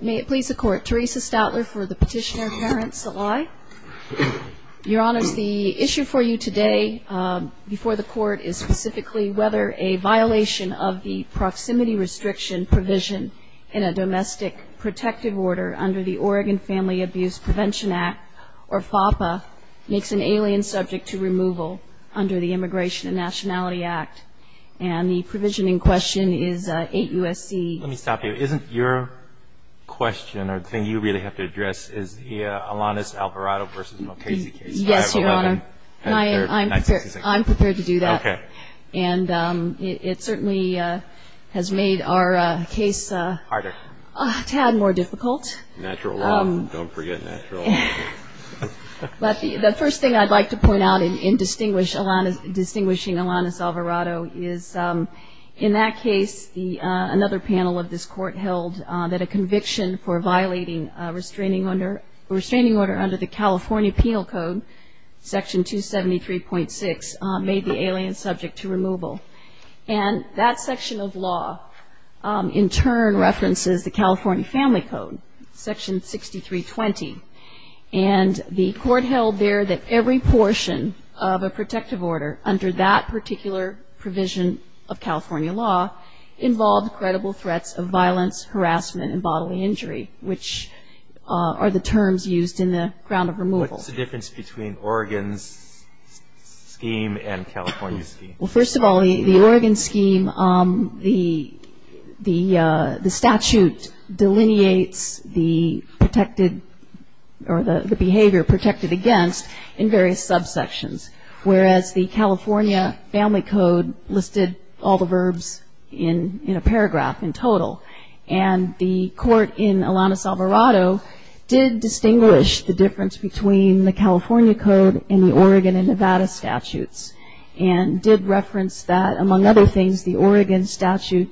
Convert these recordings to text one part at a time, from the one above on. May it please the Court, Theresa Stoutler for the petitioner, Karen Salai. Your Honors, the issue for you today before the Court is specifically whether a violation of the proximity restriction provision in a domestic protective order under the Oregon Family Abuse Prevention Act, or FAPA, makes an alien subject to removal under the Immigration and Nationality Act. And the provision in question is 8 U.S.C. Let me stop you. Isn't your question, or the thing you really have to address, is the Alanis Alvarado v. Mokasey case? Yes, Your Honor. I'm prepared to do that. Okay. And it certainly has made our case a tad more difficult. Natural law. Don't forget natural law. But the first thing I'd like to point out in distinguishing Alanis Alvarado is, in that case, another panel of this Court held that a conviction for violating a restraining order under the California Penal Code, Section 273.6, made the alien subject to removal. And that section of law, in turn, references the California Family Code, Section 6320. And the Court held there that every portion of a protective order, under that particular provision of California law, involved credible threats of violence, harassment, and bodily injury, which are the terms used in the ground of removal. What's the difference between Oregon's scheme and California's scheme? Well, first of all, the Oregon scheme, the statute delineates the behavior protected against in various subsections. Whereas the California Family Code listed all the verbs in a paragraph, in total. And the Court in Alanis Alvarado did distinguish the difference between the California Code and the Oregon and Nevada statutes. And did reference that, among other things, the Oregon statute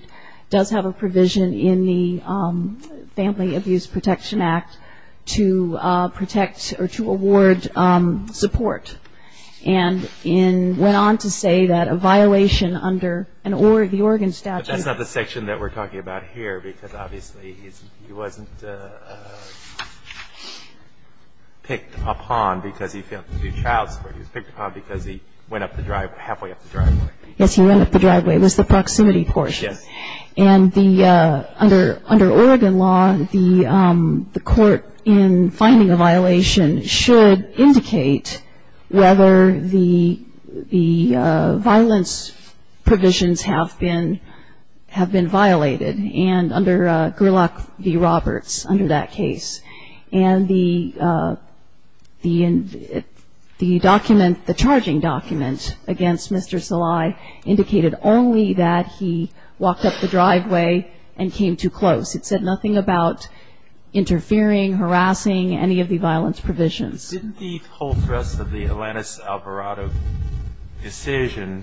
does have a provision in the Family Abuse Protection Act to protect or to award support. And went on to say that a violation under the Oregon statute. But that's not the section that we're talking about here, because obviously he wasn't picked upon because he failed to do child support. He was picked upon because he went up the driveway, halfway up the driveway. Yes, he went up the driveway. It was the proximity portion. Yes. And under Oregon law, the Court, in finding a violation, should indicate whether the violence provisions have been violated. And under Gerlach v. Roberts, under that case. And the document, the charging document against Mr. Salai indicated only that he walked up the driveway and came too close. It said nothing about interfering, harassing, any of the violence provisions. Didn't the whole thrust of the Alanis Alvarado decision,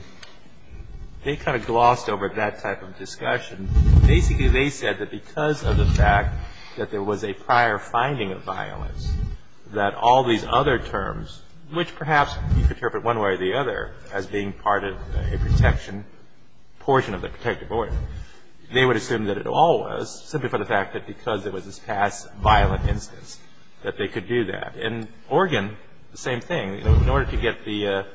they kind of glossed over that type of discussion. Basically, they said that because of the fact that there was a prior finding of violence, that all these other terms, which perhaps you could interpret one way or the other as being part of a protection portion of the protective order. They would assume that it all was, simply for the fact that because it was this past violent instance, that they could do that. And Oregon, the same thing. In order to get the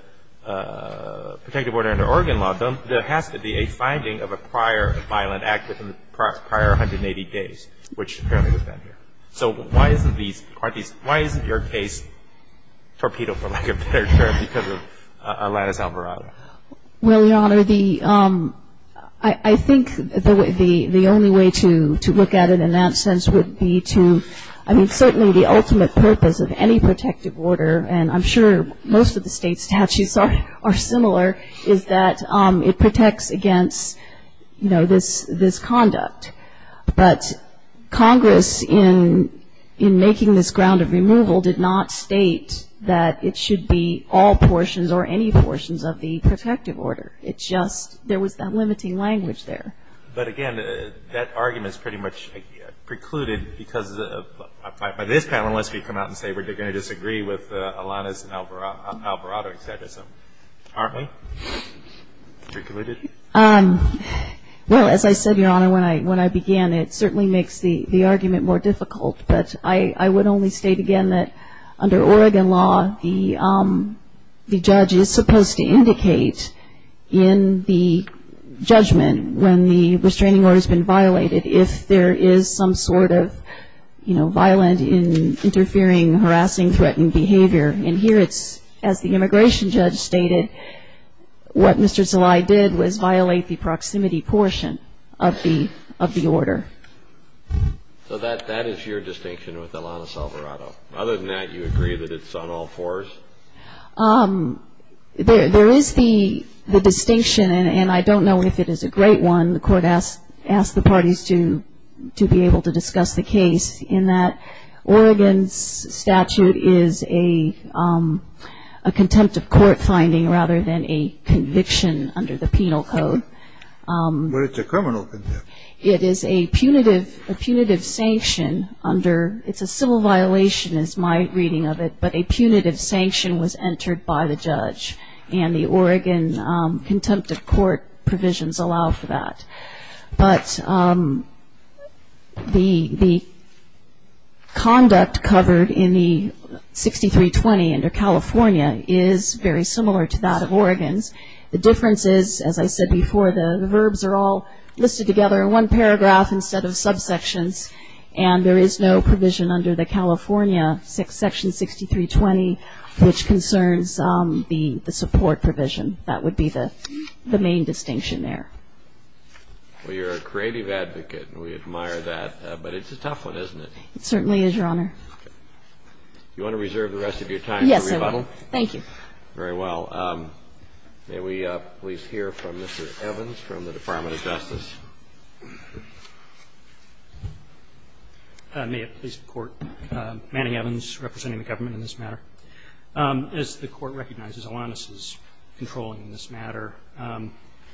protective order under Oregon law done, there has to be a finding of a prior violent act within the prior 180 days, which apparently was done here. So why isn't your case torpedoed, for lack of a better term, because of Alanis Alvarado? Well, Your Honor, I think the only way to look at it in that sense would be to, I mean, certainly the ultimate purpose of any protective order, and I'm sure most of the state statutes are similar, is that it protects against, you know, this conduct. But Congress, in making this ground of removal, did not state that it should be all portions or any portions of the protective order. It just, there was that limiting language there. But again, that argument is pretty much precluded because of, by this panel, unless we come out and say we're going to disagree with Alanis Alvarado's exegesis. Aren't we? Precluded? Well, as I said, Your Honor, when I began, it certainly makes the argument more difficult. But I would only state again that under Oregon law, the judge is supposed to indicate in the judgment when the restraining order has been violated, if there is some sort of, you know, violent, interfering, harassing, threatened behavior. And here it's, as the immigration judge stated, what Mr. Zelaya did was violate the proximity portion of the order. So that is your distinction with Alanis Alvarado. Other than that, you agree that it's on all fours? There is the distinction, and I don't know if it is a great one. The Court asked the parties to be able to discuss the case in that Oregon's statute is a contempt of court finding rather than a conviction under the penal code. But it's a criminal contempt. It is a punitive sanction under, it's a civil violation is my reading of it, but a punitive sanction was entered by the judge. And the Oregon contempt of court provisions allow for that. But the conduct covered in the 6320 under California is very similar to that of Oregon's. The difference is, as I said before, the verbs are all listed together in one paragraph instead of subsections, and there is no provision under the California section 6320 which concerns the support provision. That would be the main distinction there. Well, you're a creative advocate, and we admire that. But it's a tough one, isn't it? It certainly is, Your Honor. Do you want to reserve the rest of your time for rebuttal? Yes, I will. Thank you. Very well. May we please hear from Mr. Evans from the Department of Justice? May it please the Court. Manny Evans, representing the government in this matter. As the Court recognizes, Alanis is controlling in this matter.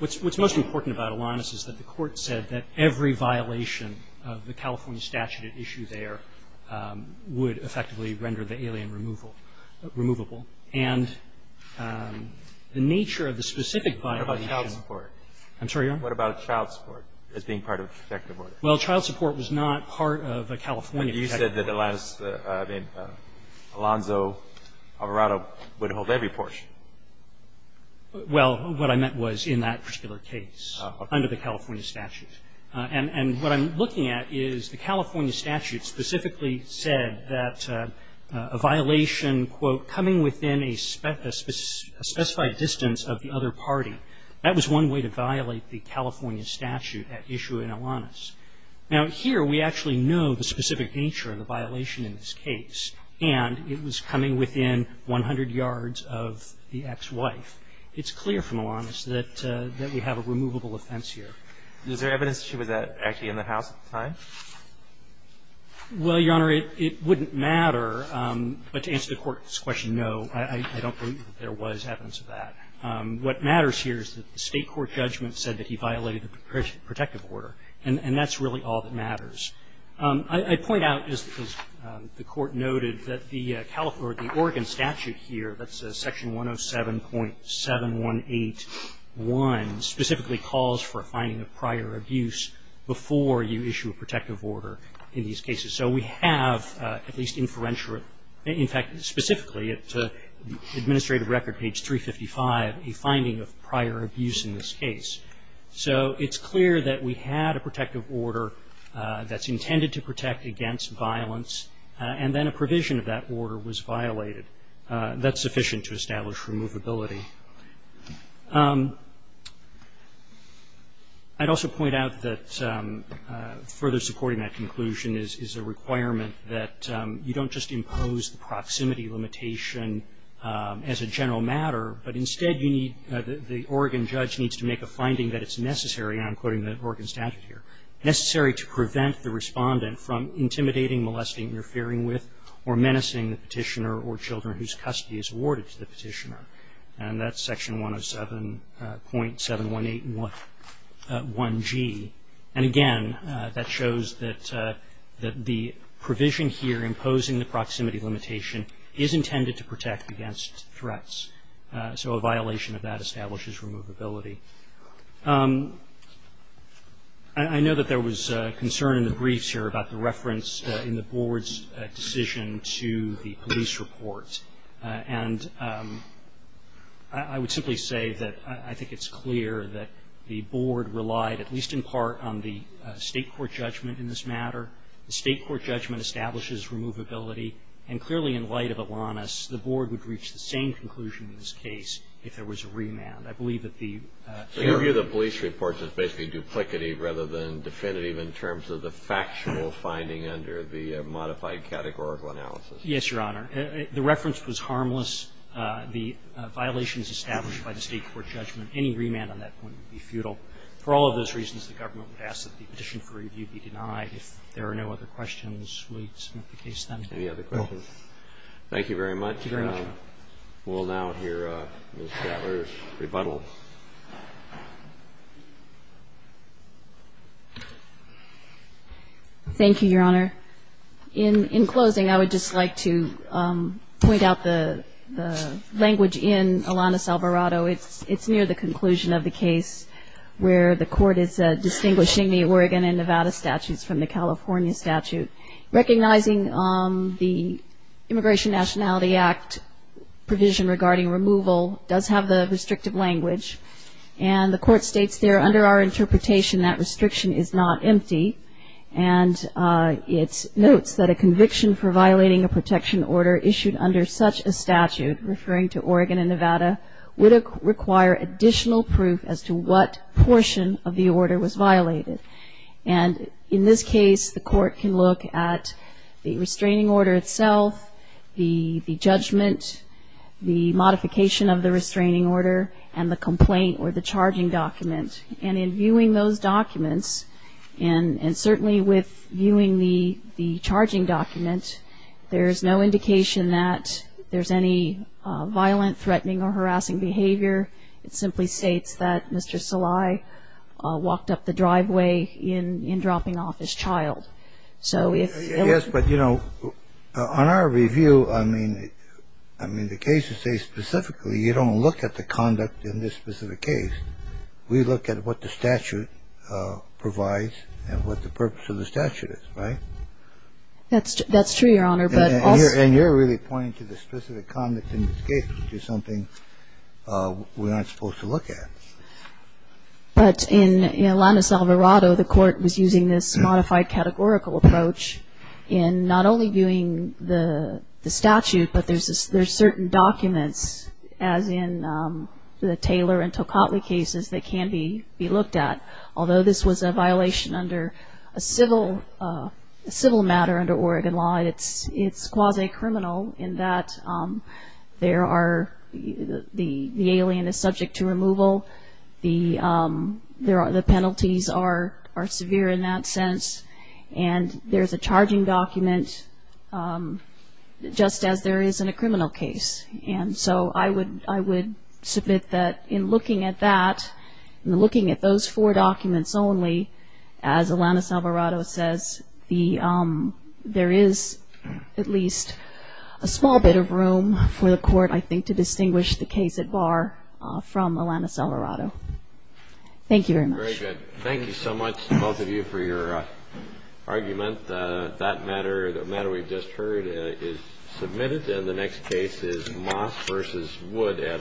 What's most important about Alanis is that the Court said that every violation of the California statute at issue there would effectively render the alien removable. And the nature of the specific violation of the California statute would render the alien removable. And the nature of the specific violation of the California statute would render the alien removable. I'm sorry, Your Honor? What about child support as being part of a protective order? Well, child support was not part of a California protective order. But you said that Alanis – I mean, Alonzo Alvarado would hold every portion. Well, what I meant was in that particular case under the California statute. And what I'm looking at is the California statute specifically said that a violation, quote, coming within a specified distance of the other party, that was one way to violate the California statute at issue in Alanis. Now, here we actually know the specific nature of the violation in this case. And it was coming within 100 yards of the ex-wife. It's clear from Alanis that we have a removable offense here. Is there evidence that she was actually in the house at the time? Well, Your Honor, it wouldn't matter. But to answer the Court's question, no, I don't believe that there was evidence of that. What matters here is that the State court judgment said that he violated the protective order. And that's really all that matters. I point out, as the Court noted, that the Oregon statute here, that's Section 107.7181, specifically calls for a finding of prior abuse before you issue a protective order in these cases. So we have at least inferential, in fact, specifically at the administrative record, page 355, a finding of prior abuse in this case. So it's clear that we had a protective order that's intended to protect against violence. And then a provision of that order was violated. That's sufficient to establish removability. I'd also point out that further supporting that conclusion is a requirement that you don't just impose the proximity limitation as a general matter, but instead you need the Oregon judge needs to make a finding that it's necessary, and I'm quoting the Oregon statute here, or menacing the petitioner or children whose custody is awarded to the petitioner. And that's Section 107.7181G. And again, that shows that the provision here, imposing the proximity limitation, is intended to protect against threats. So a violation of that establishes removability. I know that there was concern in the briefs here about the reference in the Board's decision to the police report. And I would simply say that I think it's clear that the Board relied at least in part on the State court judgment in this matter. The State court judgment establishes removability. And clearly in light of Alanis, the Board would reach the same conclusion in this case if there was a remand. I believe that the ---- The review of the police report is basically duplicative rather than definitive in terms of the factual finding under the modified categorical analysis. Yes, Your Honor. The reference was harmless. The violations established by the State court judgment, any remand on that point would be futile. For all of those reasons, the government would ask that the petition for review be denied. If there are no other questions, we'll submit the case then. Any other questions? Thank you very much. Thank you very much, Your Honor. We'll now hear Ms. Shatler's rebuttal. Thank you, Your Honor. In closing, I would just like to point out the language in Alanis Alvarado. It's near the conclusion of the case where the Court is distinguishing the Oregon and Nevada statutes from the California statute. Recognizing the Immigration Nationality Act provision regarding removal does have the restrictive language. And the Court states there under our interpretation that restriction is not empty. And it notes that a conviction for violating a protection order issued under such a statute, referring to Oregon and Nevada, would require additional proof as to what portion of the order was violated. And in this case, the Court can look at the restraining order itself, the judgment, the modification of the restraining order, and the complaint or the charging document. And in viewing those documents, and certainly with viewing the charging document, there's no indication that there's any violent, threatening, or harassing behavior. I would just like to point out that there's no indication that there's any violent, threatening, or harassing behavior. It simply states that Mr. Salai walked up the driveway in dropping off his child. So if he was ---- Yes, but, you know, on our review, I mean, the cases say specifically you don't look at the conduct in this specific case. We look at what the statute provides and what the purpose of the statute is, right? That's true, Your Honor, but also ---- And you're really pointing to the specific conduct in this case, which is something we aren't supposed to look at. But in Alanis Alvarado, the Court was using this modified categorical approach in not only viewing the statute, but there's certain documents, as in the Taylor and Tokatli cases, that can be looked at. Although this was a violation under a civil matter under Oregon law, it's quasi-criminal in that there are ---- the alien is subject to removal. The penalties are severe in that sense. And there's a charging document, just as there is in a criminal case. And so I would submit that in looking at that, in looking at those four documents only, as Alanis Alvarado says, there is at least a small bit of room for the Court, I think, to distinguish the case at bar from Alanis Alvarado. Thank you very much. Very good. Thank you so much, both of you, for your argument. That matter, the matter we've just heard, is submitted. And the next case is Moss v. Wood et al.